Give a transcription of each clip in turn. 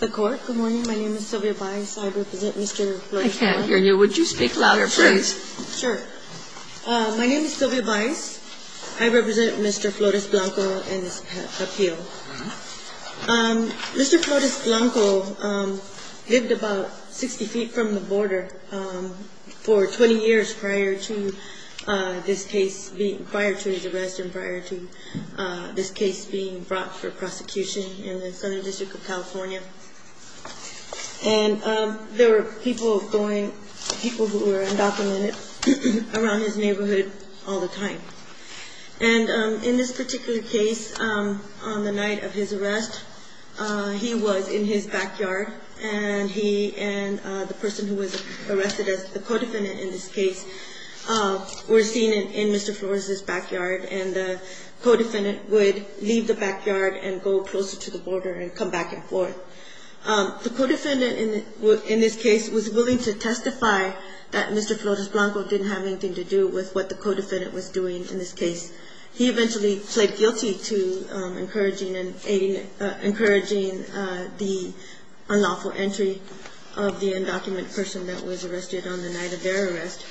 Good morning. My name is Sylvia Baez. I represent Mr. Flores-Blanco. I can't hear you. Would you speak louder, please? Sure. My name is Sylvia Baez. I represent Mr. Flores-Blanco and his appeal. Mr. Flores-Blanco lived about 60 feet from the border for 20 years prior to this case being – and there were people going – people who were undocumented around his neighborhood all the time. And in this particular case, on the night of his arrest, he was in his backyard, and he and the person who was arrested as the co-defendant in this case were seen in Mr. Flores' backyard, and the co-defendant would leave the backyard and go closer to the border and come back and forth. The co-defendant in this case was willing to testify that Mr. Flores-Blanco didn't have anything to do with what the co-defendant was doing in this case. He eventually pled guilty to encouraging the unlawful entry of the undocumented person that was arrested on the night of their arrest,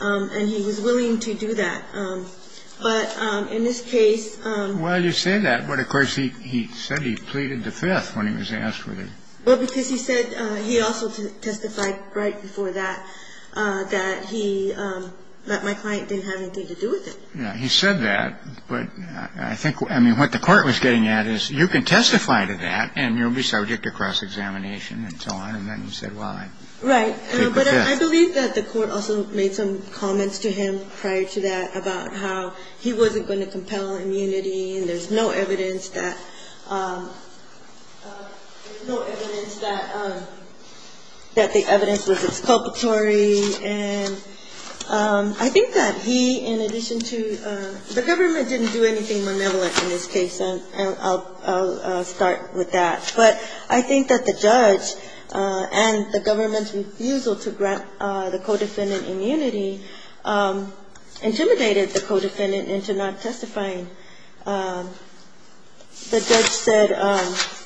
and he was willing to do that. But in this case – Well, you say that, but, of course, he said he pleaded the Fifth when he was asked whether – Well, because he said – he also testified right before that, that he – that my client didn't have anything to do with it. Yeah, he said that, but I think – I mean, what the court was getting at is you can testify to that, and you'll be subject to cross-examination and so on, and then he said, well, I plead the Fifth. Right. But I believe that the court also made some comments to him prior to that about how he wasn't going to compel immunity and there's no evidence that – no evidence that the evidence was exculpatory. And I think that he, in addition to – the government didn't do anything malevolent in this case, and I'll start with that. But I think that the judge and the government's refusal to grant the co-defendant immunity intimidated the co-defendant into not testifying. The judge said –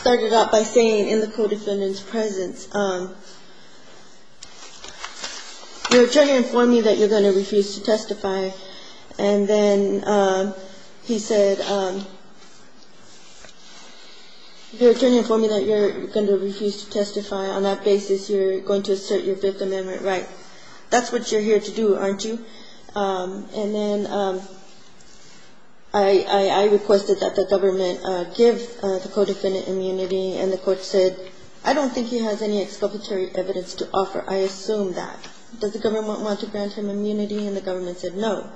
started out by saying in the co-defendant's presence, you're trying to inform me that you're going to refuse to testify, and then he said, you're trying to inform me that you're going to refuse to testify. On that basis, you're going to assert your Fifth Amendment right. That's what you're here to do, aren't you? And then I requested that the government give the co-defendant immunity, and the court said, I don't think he has any exculpatory evidence to offer. I assume that. Does the government want to grant him immunity? And the government said no.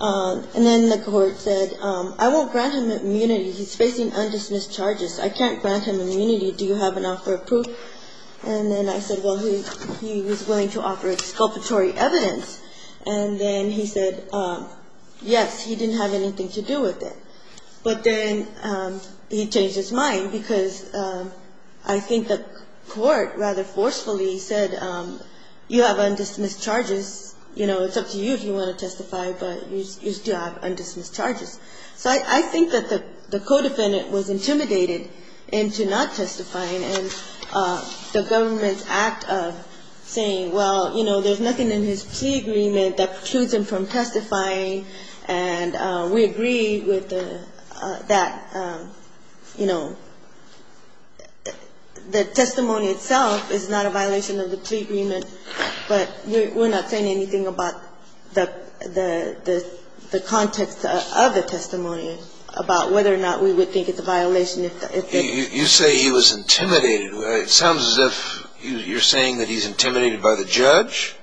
And then the court said, I won't grant him immunity. He's facing undismissed charges. I can't grant him immunity. Do you have an offer of proof? And then I said, well, he was willing to offer exculpatory evidence. And then he said, yes, he didn't have anything to do with it. But then he changed his mind because I think the court rather forcefully said, you have undismissed charges, you know, it's up to you if you want to testify, but you still have undismissed charges. So I think that the co-defendant was intimidated into not testifying, and the government's act of saying, well, you know, there's nothing in his plea agreement that precludes him from testifying, and we agree with that, you know. The testimony itself is not a violation of the plea agreement, but we're not saying anything about the context of the testimony, about whether or not we would think it's a violation. You say he was intimidated. It sounds as if you're saying that he's intimidated by the judge.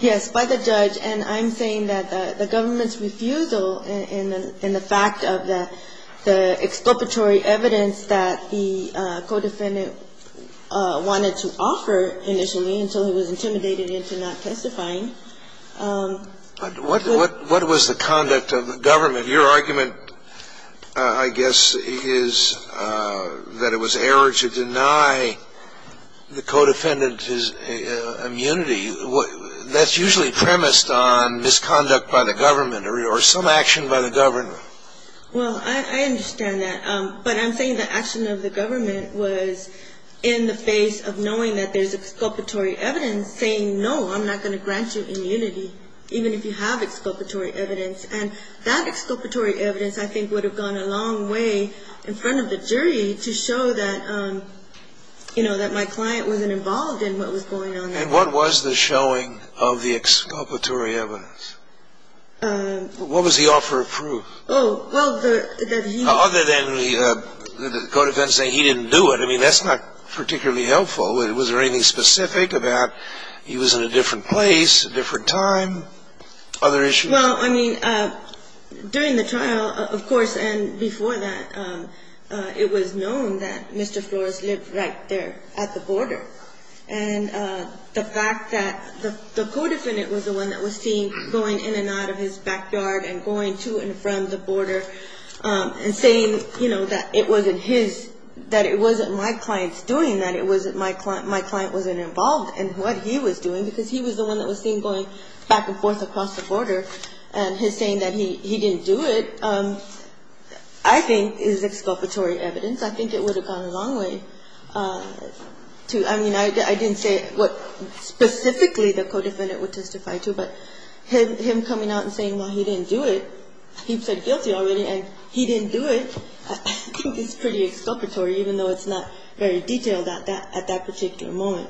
Yes, by the judge. And I'm saying that the government's refusal in the fact of the exculpatory evidence that the co-defendant wanted to offer initially until he was intimidated into not testifying. What was the conduct of the government? Your argument, I guess, is that it was error to deny the co-defendant his immunity. That's usually premised on misconduct by the government or some action by the government. Well, I understand that. But I'm saying the action of the government was in the face of knowing that there's exculpatory evidence saying, no, I'm not going to grant you immunity, even if you have exculpatory evidence. And that exculpatory evidence, I think, would have gone a long way in front of the jury to show that, you know, that my client wasn't involved in what was going on there. And what was the showing of the exculpatory evidence? What was the offer of proof? Other than the co-defendant saying he didn't do it. I mean, that's not particularly helpful. Was there anything specific about he was in a different place, a different time, other issues? Well, I mean, during the trial, of course, and before that, it was known that Mr. Flores lived right there at the border. And the fact that the co-defendant was the one that was seen going in and out of his backyard and going to and from the border and saying, you know, that it wasn't his, that it wasn't my client's doing, that my client wasn't involved in what he was doing, because he was the one that was seen going back and forth across the border. And his saying that he didn't do it, I think, is exculpatory evidence. I think it would have gone a long way to – I mean, I didn't say what specifically the co-defendant would testify to, but him coming out and saying, well, he didn't do it, he said guilty already, and he didn't do it, I think is pretty exculpatory, even though it's not very detailed at that particular moment.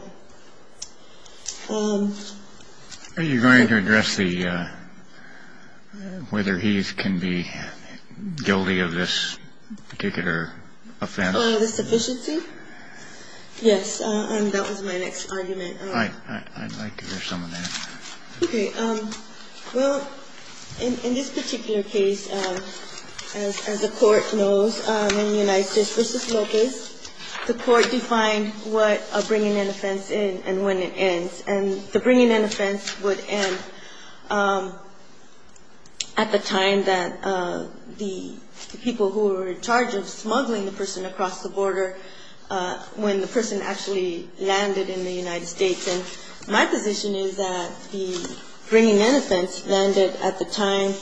Are you going to address the – whether he can be guilty of this particular offense? The sufficiency? Yes. And that was my next argument. I'd like to hear some of that. Okay. Well, in this particular case, as the Court knows, in the United States v. Lopez, the Court defined what a bringing-in offense is and when it ends. And the bringing-in offense would end at the time that the people who were in charge of smuggling the person across the border, when the person actually landed in the United States. And my position is that the bringing-in offense landed at the time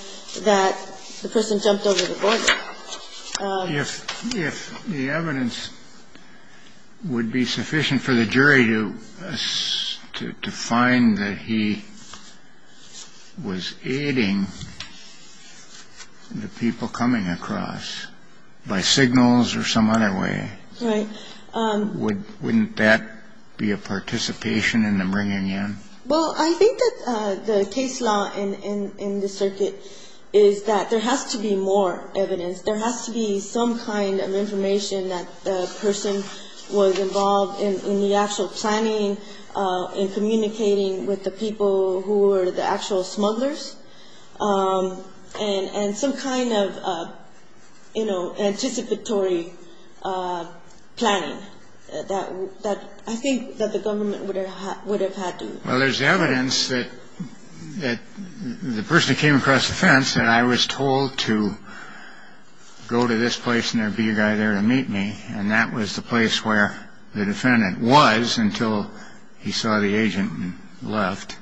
that the person jumped over the border. If the evidence would be sufficient for the jury to find that he was aiding the people coming across by signals or some other way, wouldn't that be a participation in the bringing-in? Well, I think that the case law in this circuit is that there has to be more evidence. There has to be some kind of information that the person was involved in the actual planning and communicating with the people who were the actual smugglers. And some kind of, you know, anticipatory planning that I think that the government would have had to do. Well, there's evidence that the person came across the fence and I was told to go to this place and there would be a guy there to meet me. And that was the place where the defendant was until he saw the agent and left.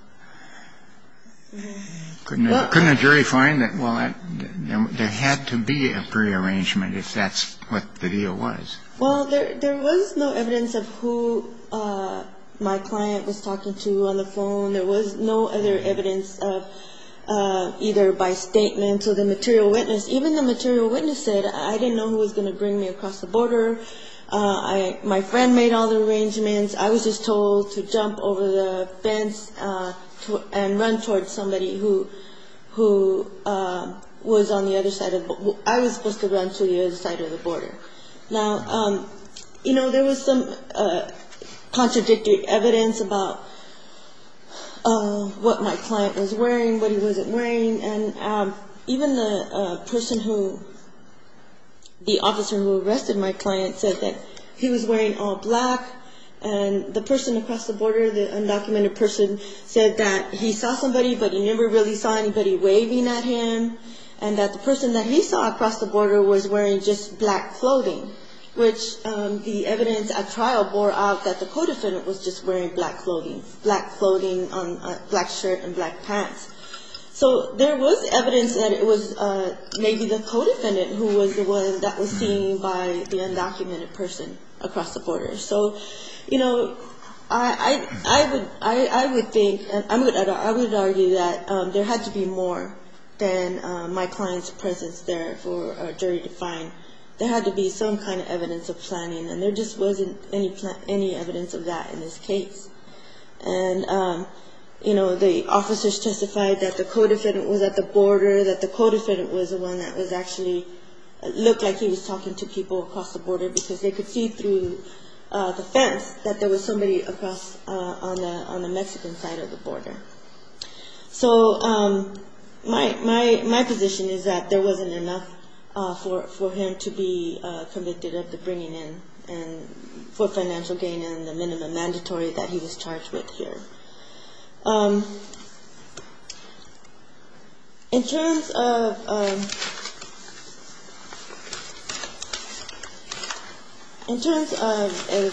Couldn't a jury find that? Well, there had to be a prearrangement if that's what the deal was. Well, there was no evidence of who my client was talking to on the phone. There was no other evidence of either by statement or the material witness. Even the material witness said, I didn't know who was going to bring me across the border. My friend made all the arrangements. I was just told to jump over the fence and run towards somebody who was on the other side of the border. I was supposed to run to the other side of the border. Now, you know, there was some contradictory evidence about what my client was wearing, what he wasn't wearing. And even the person who, the officer who arrested my client said that he was wearing all black and the person across the border, the undocumented person said that he saw somebody but he never really saw anybody waving at him and that the person that he saw across the border was wearing just black clothing, which the evidence at trial bore out that the co-defendant was just wearing black clothing, black clothing, black shirt and black pants. So there was evidence that it was maybe the co-defendant who was the one that was the undocumented person across the border. So, you know, I would think, I would argue that there had to be more than my client's presence there for a jury to find. There had to be some kind of evidence of planning and there just wasn't any evidence of that in this case. And, you know, the officers testified that the co-defendant was at the border, that the co-defendant was the one that was actually, looked like he was talking to people across the border because they could see through the fence that there was somebody across on the Mexican side of the border. So my position is that there wasn't enough for him to be convicted of the bringing in and for financial gain and the minimum mandatory that he was charged with here. In terms of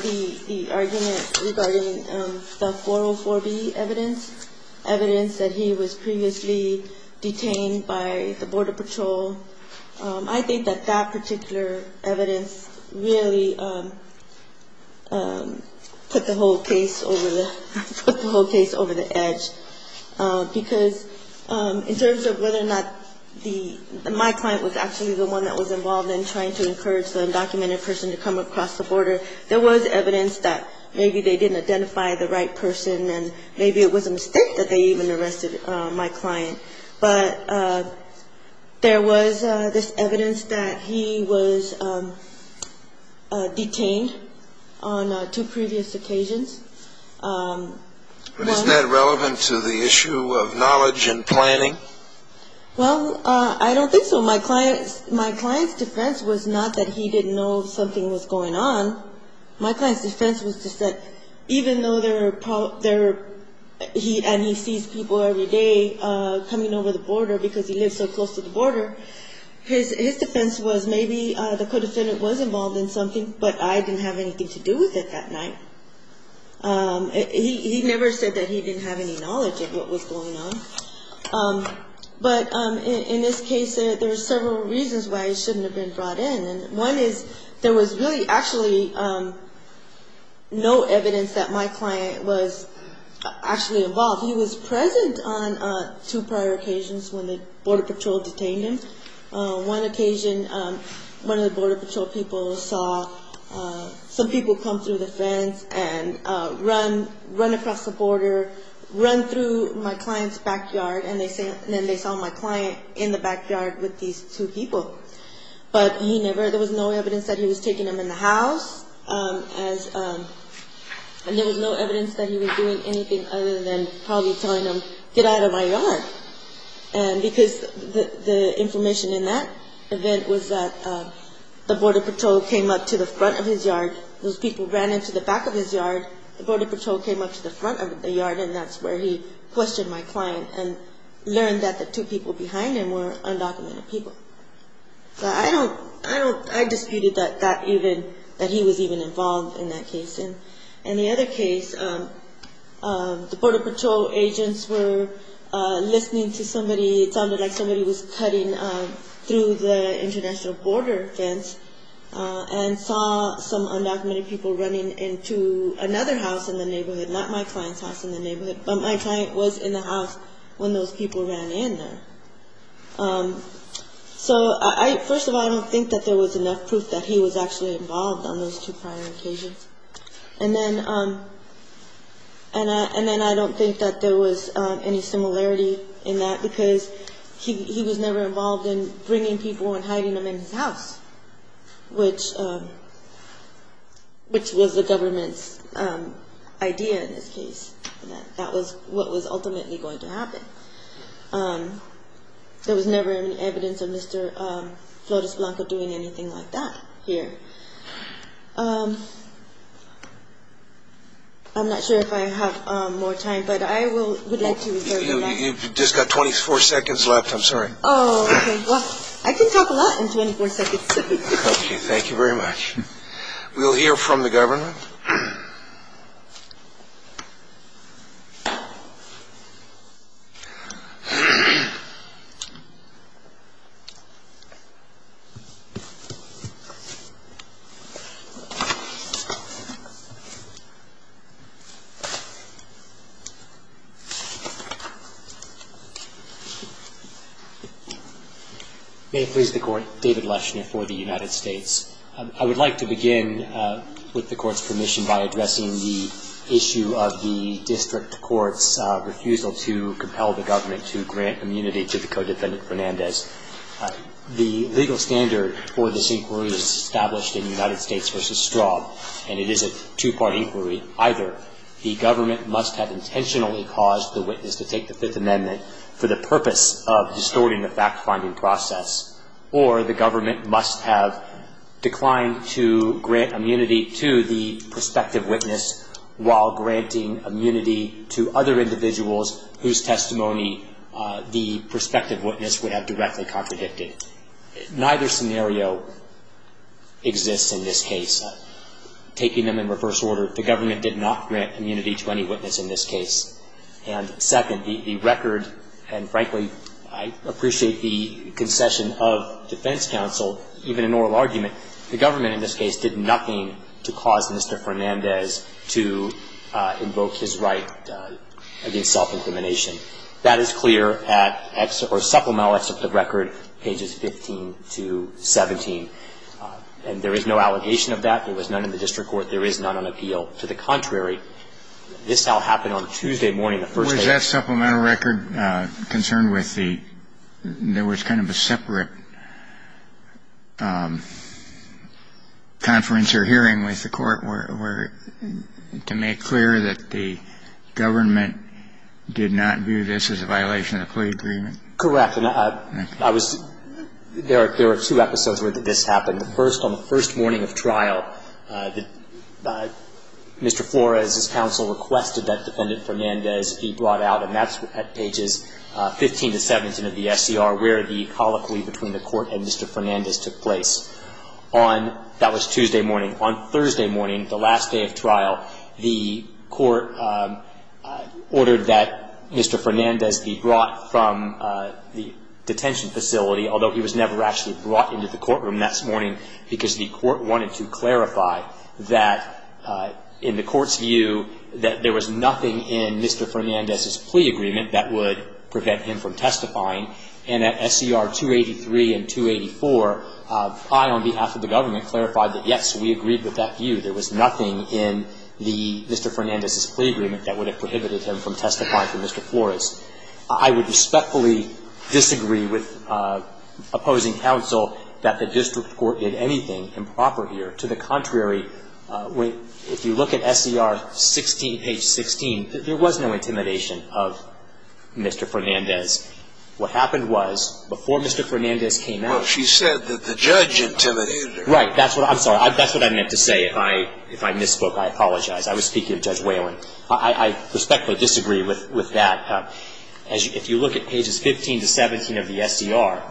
the argument regarding the 404B evidence, evidence that he was previously detained by the border patrol, I think that that particular evidence really put the whole case over the edge because in terms of whether or not the, my client was actually the one that was involved in trying to encourage the undocumented person to come across the border, there was evidence that maybe they didn't identify the right person and maybe it was a mistake that they even arrested my client. But there was this evidence that he was detained on two previous occasions. But isn't that relevant to the issue of knowledge and planning? Well, I don't think so. My client's defense was not that he didn't know something was going on. My client's defense was just that even though there are, and he sees people every day coming over the border because he lives so close to the border, his defense was maybe the co-defendant was involved in something, but I didn't have anything to do with it that night. He never said that he didn't have any knowledge of what was going on. But in this case, there are several reasons why he shouldn't have been brought in. One is there was really actually no evidence that my client was actually involved. He was present on two prior occasions when the Border Patrol detained him. One occasion, one of the Border Patrol people saw some people come through the fence and run across the border, run through my client's backyard, and then they saw my client in the backyard with these two people. But he never, there was no evidence that he was taking them in the house, and there was no evidence that he was doing anything other than probably telling them, get out of my yard, because the information in that event was that the Border Patrol came up to the front of his yard, those people ran into the back of his yard, the Border Patrol came up to the front of the yard, and that's where he questioned my client and learned that the two people behind him were undocumented people. But I don't, I don't, I disputed that even, that he was even involved in that case. And the other case, the Border Patrol agents were listening to somebody, it sounded like somebody was cutting through the international border fence and saw some undocumented people running into another house in the neighborhood, not my client's house in the neighborhood, but my client was in the house when those people ran in there. So first of all, I don't think that there was enough proof that he was actually involved on those two prior occasions. And then I don't think that there was any similarity in that, because he was never involved in bringing people and hiding them in his house, which was the government's idea in this case. That was what was ultimately going to happen. There was never any evidence of Mr. Flores Blanco doing anything like that here. I'm not sure if I have more time, but I would like to reserve that. You've just got 24 seconds left, I'm sorry. Oh, okay. Well, I can talk a lot in 24 seconds. Okay, thank you very much. We'll hear from the government. May it please the Court. David Leschner for the United States. I would like to begin, with the Court's permission, by addressing the issue of the district court's refusal to compel the government to grant immunity to the co-defendant Fernandez. The legal standard for this inquiry is established in United States v. Straub, and it is a two-part inquiry. Either the government must have intentionally caused the witness to take the Fifth Amendment for the purpose of distorting the fact-finding process, or the government must have declined to grant immunity to the prospective witness while granting immunity to other individuals whose testimony the prospective witness would have directly contradicted. Neither scenario exists in this case. Taking them in reverse order, the government did not grant immunity to any witness in this case. And second, the record, and frankly, I appreciate the concession of defense counsel, even an oral argument, the government in this case did nothing to cause Mr. Fernandez to invoke his right against self-incrimination. That is clear at supplemental excerpt of record, pages 15 to 17. And there is no allegation of that. There was none in the district court. There is none on appeal. To the contrary, this now happened on Tuesday morning, the first day. Was that supplemental record concerned with the – there was kind of a separate conference or hearing with the court where – to make clear that the government did not view this as a violation of the plea agreement? Correct. And I was – there are two episodes where this happened. The first, on the first morning of trial, Mr. Flores' counsel requested that Defendant Fernandez be brought out, and that's at pages 15 to 17 of the SCR, where the colloquy between the court and Mr. Fernandez took place. On – that was Tuesday morning. On Thursday morning, the last day of trial, the court ordered that Mr. Fernandez be brought from the detention facility, although he was never actually brought into the courtroom that morning because the court wanted to clarify that in the court's view that there was nothing in Mr. Fernandez's plea agreement that would prevent him from testifying. And at SCR 283 and 284, I, on behalf of the government, clarified that, yes, we agreed with that view. There was nothing in the – Mr. Fernandez's plea agreement that would have prohibited him from testifying for Mr. Flores. I would respectfully disagree with opposing counsel that the district court did anything improper here. To the contrary, if you look at SCR 16 – page 16, there was no intimidation of Mr. Fernandez. What happened was, before Mr. Fernandez came out – Well, she said that the judge intimidated her. Right. That's what – I'm sorry. That's what I meant to say. If I – if I misspoke, I apologize. I was speaking of Judge Whalen. I respectfully disagree with that. As you – if you look at pages 15 to 17 of the SCR,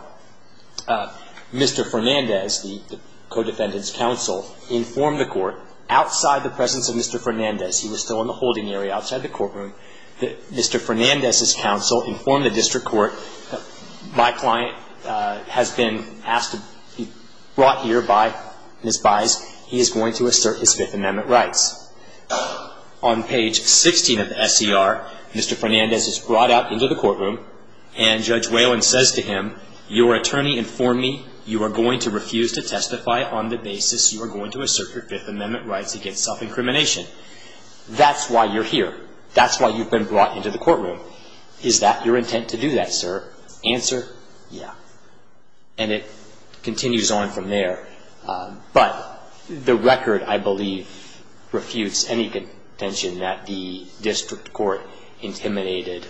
Mr. Fernandez, the co-defendant's counsel, informed the court, outside the presence of Mr. Fernandez – he was still in the holding area, outside the courtroom – that Mr. Fernandez's counsel informed the district court, my client has been asked to be brought here by Ms. Baez. He is going to assert his Fifth Amendment rights. On page 16 of the SCR, Mr. Fernandez is brought out into the courtroom, and Judge Whalen says to him, your attorney informed me you are going to refuse to testify on the basis you are going to assert your Fifth Amendment rights against self-incrimination. That's why you're here. That's why you've been brought into the courtroom. Is that your intent to do that, sir? Answer, yeah. And it continues on from there. But the record, I believe, refutes any contention that the district court intimidated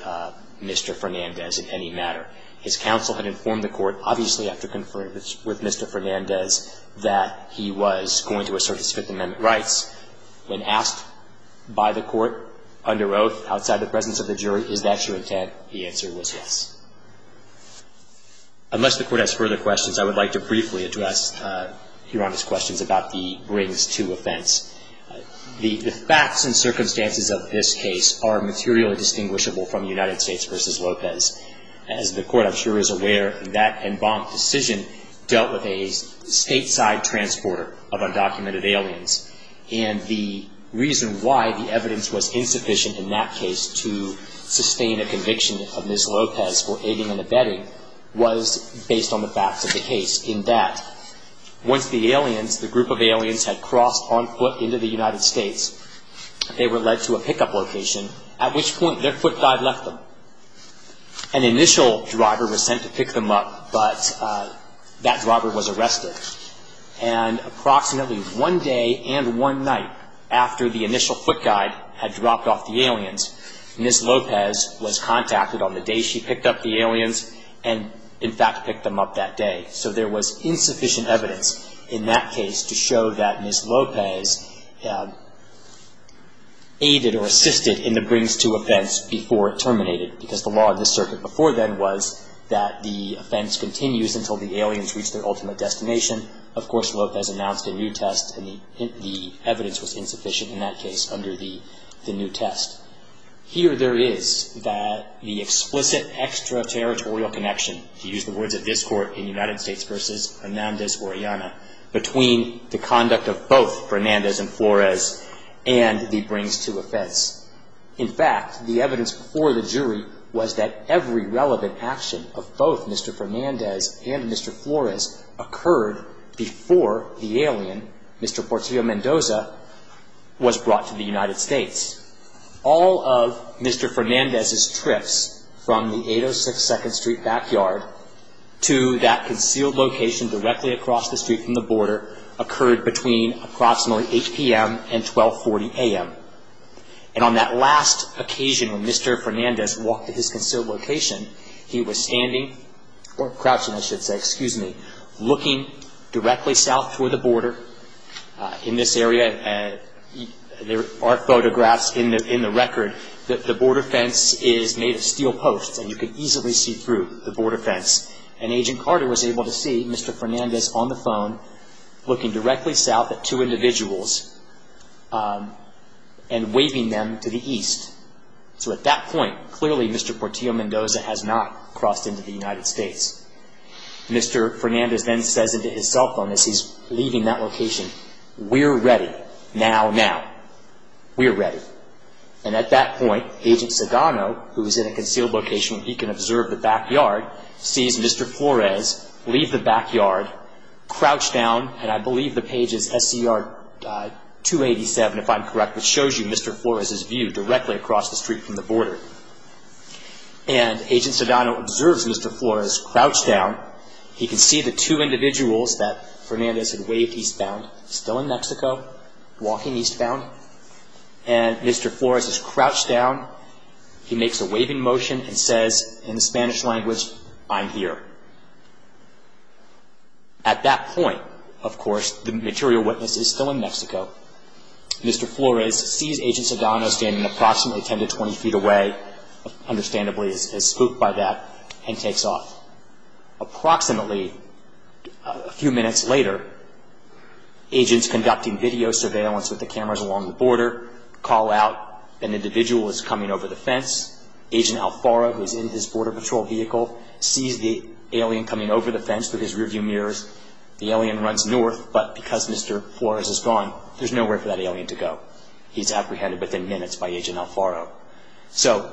Mr. Fernandez in any matter. His counsel had informed the court, obviously after conferring with Mr. Fernandez, that he was going to assert his Fifth Amendment rights. When asked by the court, under oath, outside the presence of the jury, is that your intent? The answer was yes. Unless the court has further questions, I would like to briefly address Your Honor's questions about the brings to offense. The facts and circumstances of this case are materially distinguishable from United States v. Lopez. As the court, I'm sure, is aware, that en banc decision dealt with a stateside transporter of undocumented aliens. And the reason why the evidence was insufficient in that case to sustain a case for aiding and abetting was based on the facts of the case, in that once the aliens, the group of aliens, had crossed on foot into the United States, they were led to a pickup location, at which point their foot guide left them. An initial driver was sent to pick them up, but that driver was arrested. And approximately one day and one night after the initial foot guide had So there was insufficient evidence in that case to show that Ms. Lopez aided or assisted in the brings to offense before it terminated, because the law of this circuit before then was that the offense continues until the aliens reach their ultimate destination. Of course, Lopez announced a new test, and the evidence was insufficient in that case under the new test. Here there is the explicit extraterritorial connection, to use the words of this court in the United States versus Fernandez-Orellana, between the conduct of both Fernandez and Flores and the brings to offense. In fact, the evidence before the jury was that every relevant action of both Mr. Fernandez and Mr. Flores occurred before the alien, Mr. Portillo Mendoza, was investigated. All of Mr. Fernandez's trips from the 806 2nd Street backyard to that concealed location directly across the street from the border occurred between approximately 8 p.m. and 1240 a.m. And on that last occasion when Mr. Fernandez walked to his concealed location, he was standing, or crouching I should say, excuse me, looking directly south toward the border in this area. There are photographs in the record that the border fence is made of steel posts and you can easily see through the border fence. And Agent Carter was able to see Mr. Fernandez on the phone looking directly south at two individuals and waving them to the east. So at that point, clearly Mr. Portillo Mendoza has not crossed into the United States. Mr. Fernandez then says into his cell phone as he's leaving that location, we're ready. Now, now. We're ready. And at that point, Agent Sedano, who is in a concealed location, he can observe the backyard, sees Mr. Flores leave the backyard, crouch down, and I believe the page is SCR 287 if I'm correct, which shows you Mr. Flores's view directly across the street from the border. And Agent Sedano observes Mr. Flores crouch down. He can see the two individuals that Fernandez had waved eastbound, still in Mexico, walking eastbound. And Mr. Flores is crouched down. He makes a waving motion and says in the Spanish language, I'm here. At that point, of course, the material witness is still in Mexico. Mr. Flores sees Agent Sedano standing approximately 10 to 20 feet away, understandably as spooked by that, and takes off. Approximately a few minutes later, agents conducting video surveillance with the cameras along the border call out an individual is coming over the fence. Agent Alfaro, who is in his Border Patrol vehicle, sees the alien coming over the fence through his rearview mirrors. The alien runs north, but because Mr. Flores is gone, there's nowhere for that alien to go. He's apprehended within minutes by Agent Alfaro. So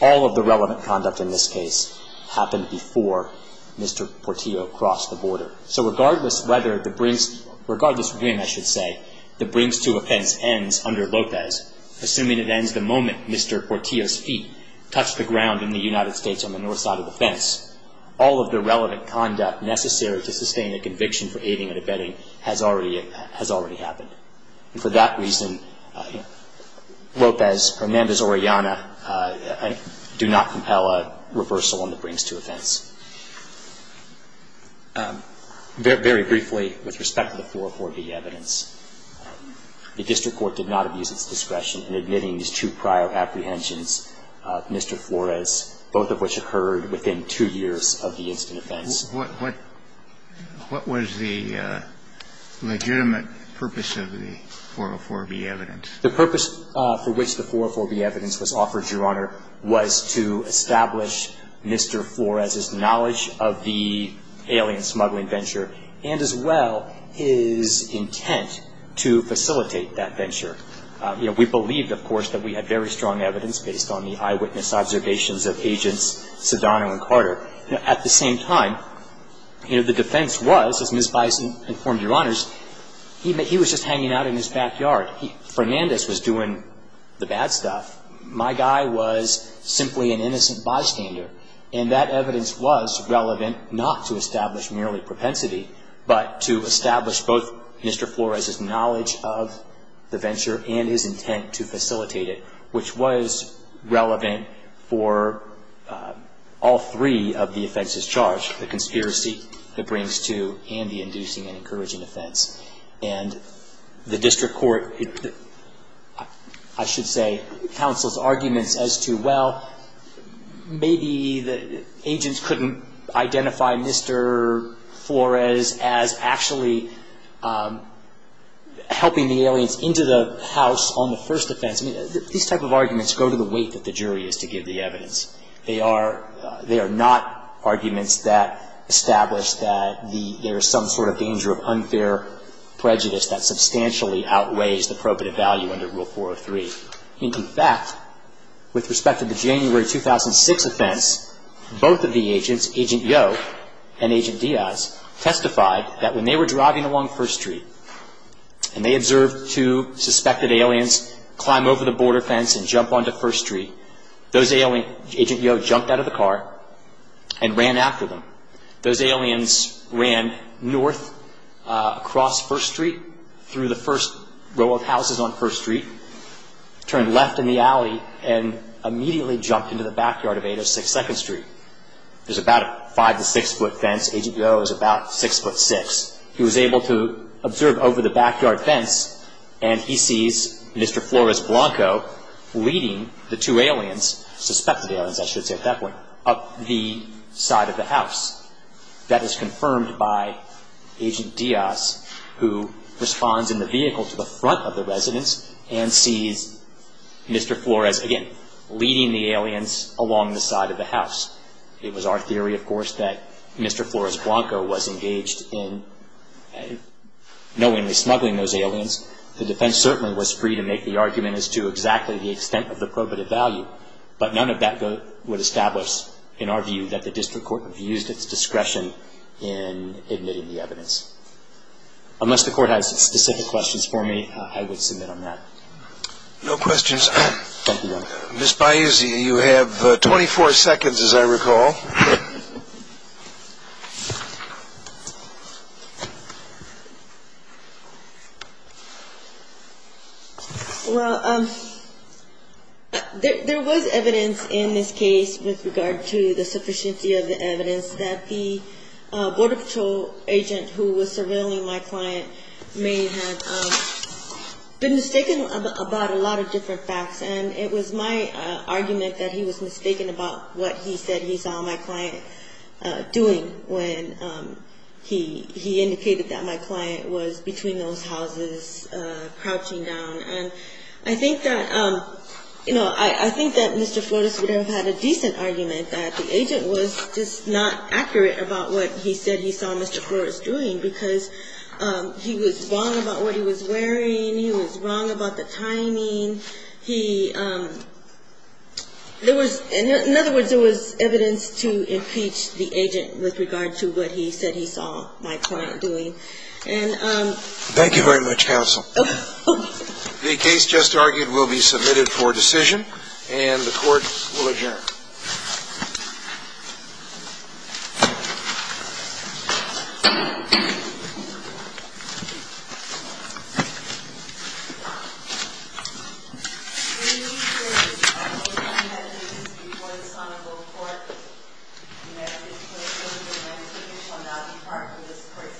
all of the relevant conduct in this case happened before Mr. Portillo crossed the border. So regardless whether the brinks, regardless when, I should say, the brinks to a fence ends under Lopez, assuming it ends the moment Mr. Portillo's feet touch the ground in the United States on the north side of the fence, all of the relevant conduct necessary to sustain a conviction for aiding and abetting has already happened. And for that reason, Lopez, Hernandez, or Ayanna do not compel a reversal on the brinks to a fence. Very briefly, with respect to the 404B evidence, the district court did not abuse its discretion in admitting these two prior apprehensions of Mr. Flores, both of which occurred within two years of the instant offense. What was the legitimate purpose of the 404B evidence? The purpose for which the 404B evidence was offered, Your Honor, was to establish Mr. Flores' knowledge of the alien smuggling venture and as well his intent to facilitate that venture. We believed, of course, that we had very strong evidence based on the eyewitness observations of Agents Sedano and Carter. At the same time, the defense was, as Ms. Bison informed Your Honors, he was just hanging out in his backyard. Hernandez was doing the bad stuff. My guy was simply an innocent bystander. And that evidence was relevant not to establish merely propensity, but to establish both Mr. Flores' knowledge of the venture and his intent to facilitate it, which was relevant for all three of the offenses charged, the conspiracy that brings to and the inducing and encouraging offense. And the district court, I should say, counsels arguments as to, well, maybe the agents couldn't identify Mr. Flores as actually helping the aliens into the house on the first offense. These type of arguments go to the weight that the jury is to give the evidence. They are not arguments that establish that there is some sort of danger of unfair prejudice that substantially outweighs the probative value under Rule 403. In fact, with respect to the January 2006 offense, both of the agents, Agent Yo and Agent Diaz, testified that when they were driving along First Street and they observed two suspected aliens climb over the border fence and jump onto First Street, Agent Yo jumped out of the car and ran after them. Those aliens ran north across First Street through the first row of houses on First Street, turned left in the alley, and immediately jumped into the backyard of 806 Second Street. There's about a five to six foot fence. Agent Yo is about six foot six. He was able to observe over the backyard fence and he sees Mr. Flores Blanco leading the two aliens, suspected aliens I should say at that point, up the side of the house. That is confirmed by Agent Diaz who responds in the vehicle to the front of the residence and sees Mr. Flores, again, leading the aliens along the side of the house. It was our theory, of course, that Mr. Flores Blanco was engaged in knowingly smuggling those aliens. The defense certainly was free to make the argument as to exactly the extent of the probative value, but none of that would establish in our view that the district court would have used its discretion in admitting the evidence. Unless the court has specific questions for me, I would submit on that. No questions. Thank you, Your Honor. Ms. Bayouzi, you have 24 seconds as I recall. Well, there was evidence in this case with regard to the sufficiency of the evidence that the border patrol agent who was surveilling my client may have been mistaken about a lot of different facts, and it was my argument that he was mistaken about what he said he saw my client doing when he indicated that my client was between those houses crouching down. And I think that, you know, I think that Mr. Flores would have had a decent argument that the agent was just not accurate about what he said he saw Mr. Flores doing because he was wrong about what he was wearing. He was wrong about the timing. He – there was – in other words, there was evidence to impeach the agent with regard to what he said he saw my client doing. And – Thank you very much, counsel. The case just argued will be submitted for decision, and the Court will adjourn. Thank you. The hearing is adjourned. All witnesses before the Sonago Court may please close the hearing. Thank you. You shall now depart from this court stand. Adjourned. Thank you.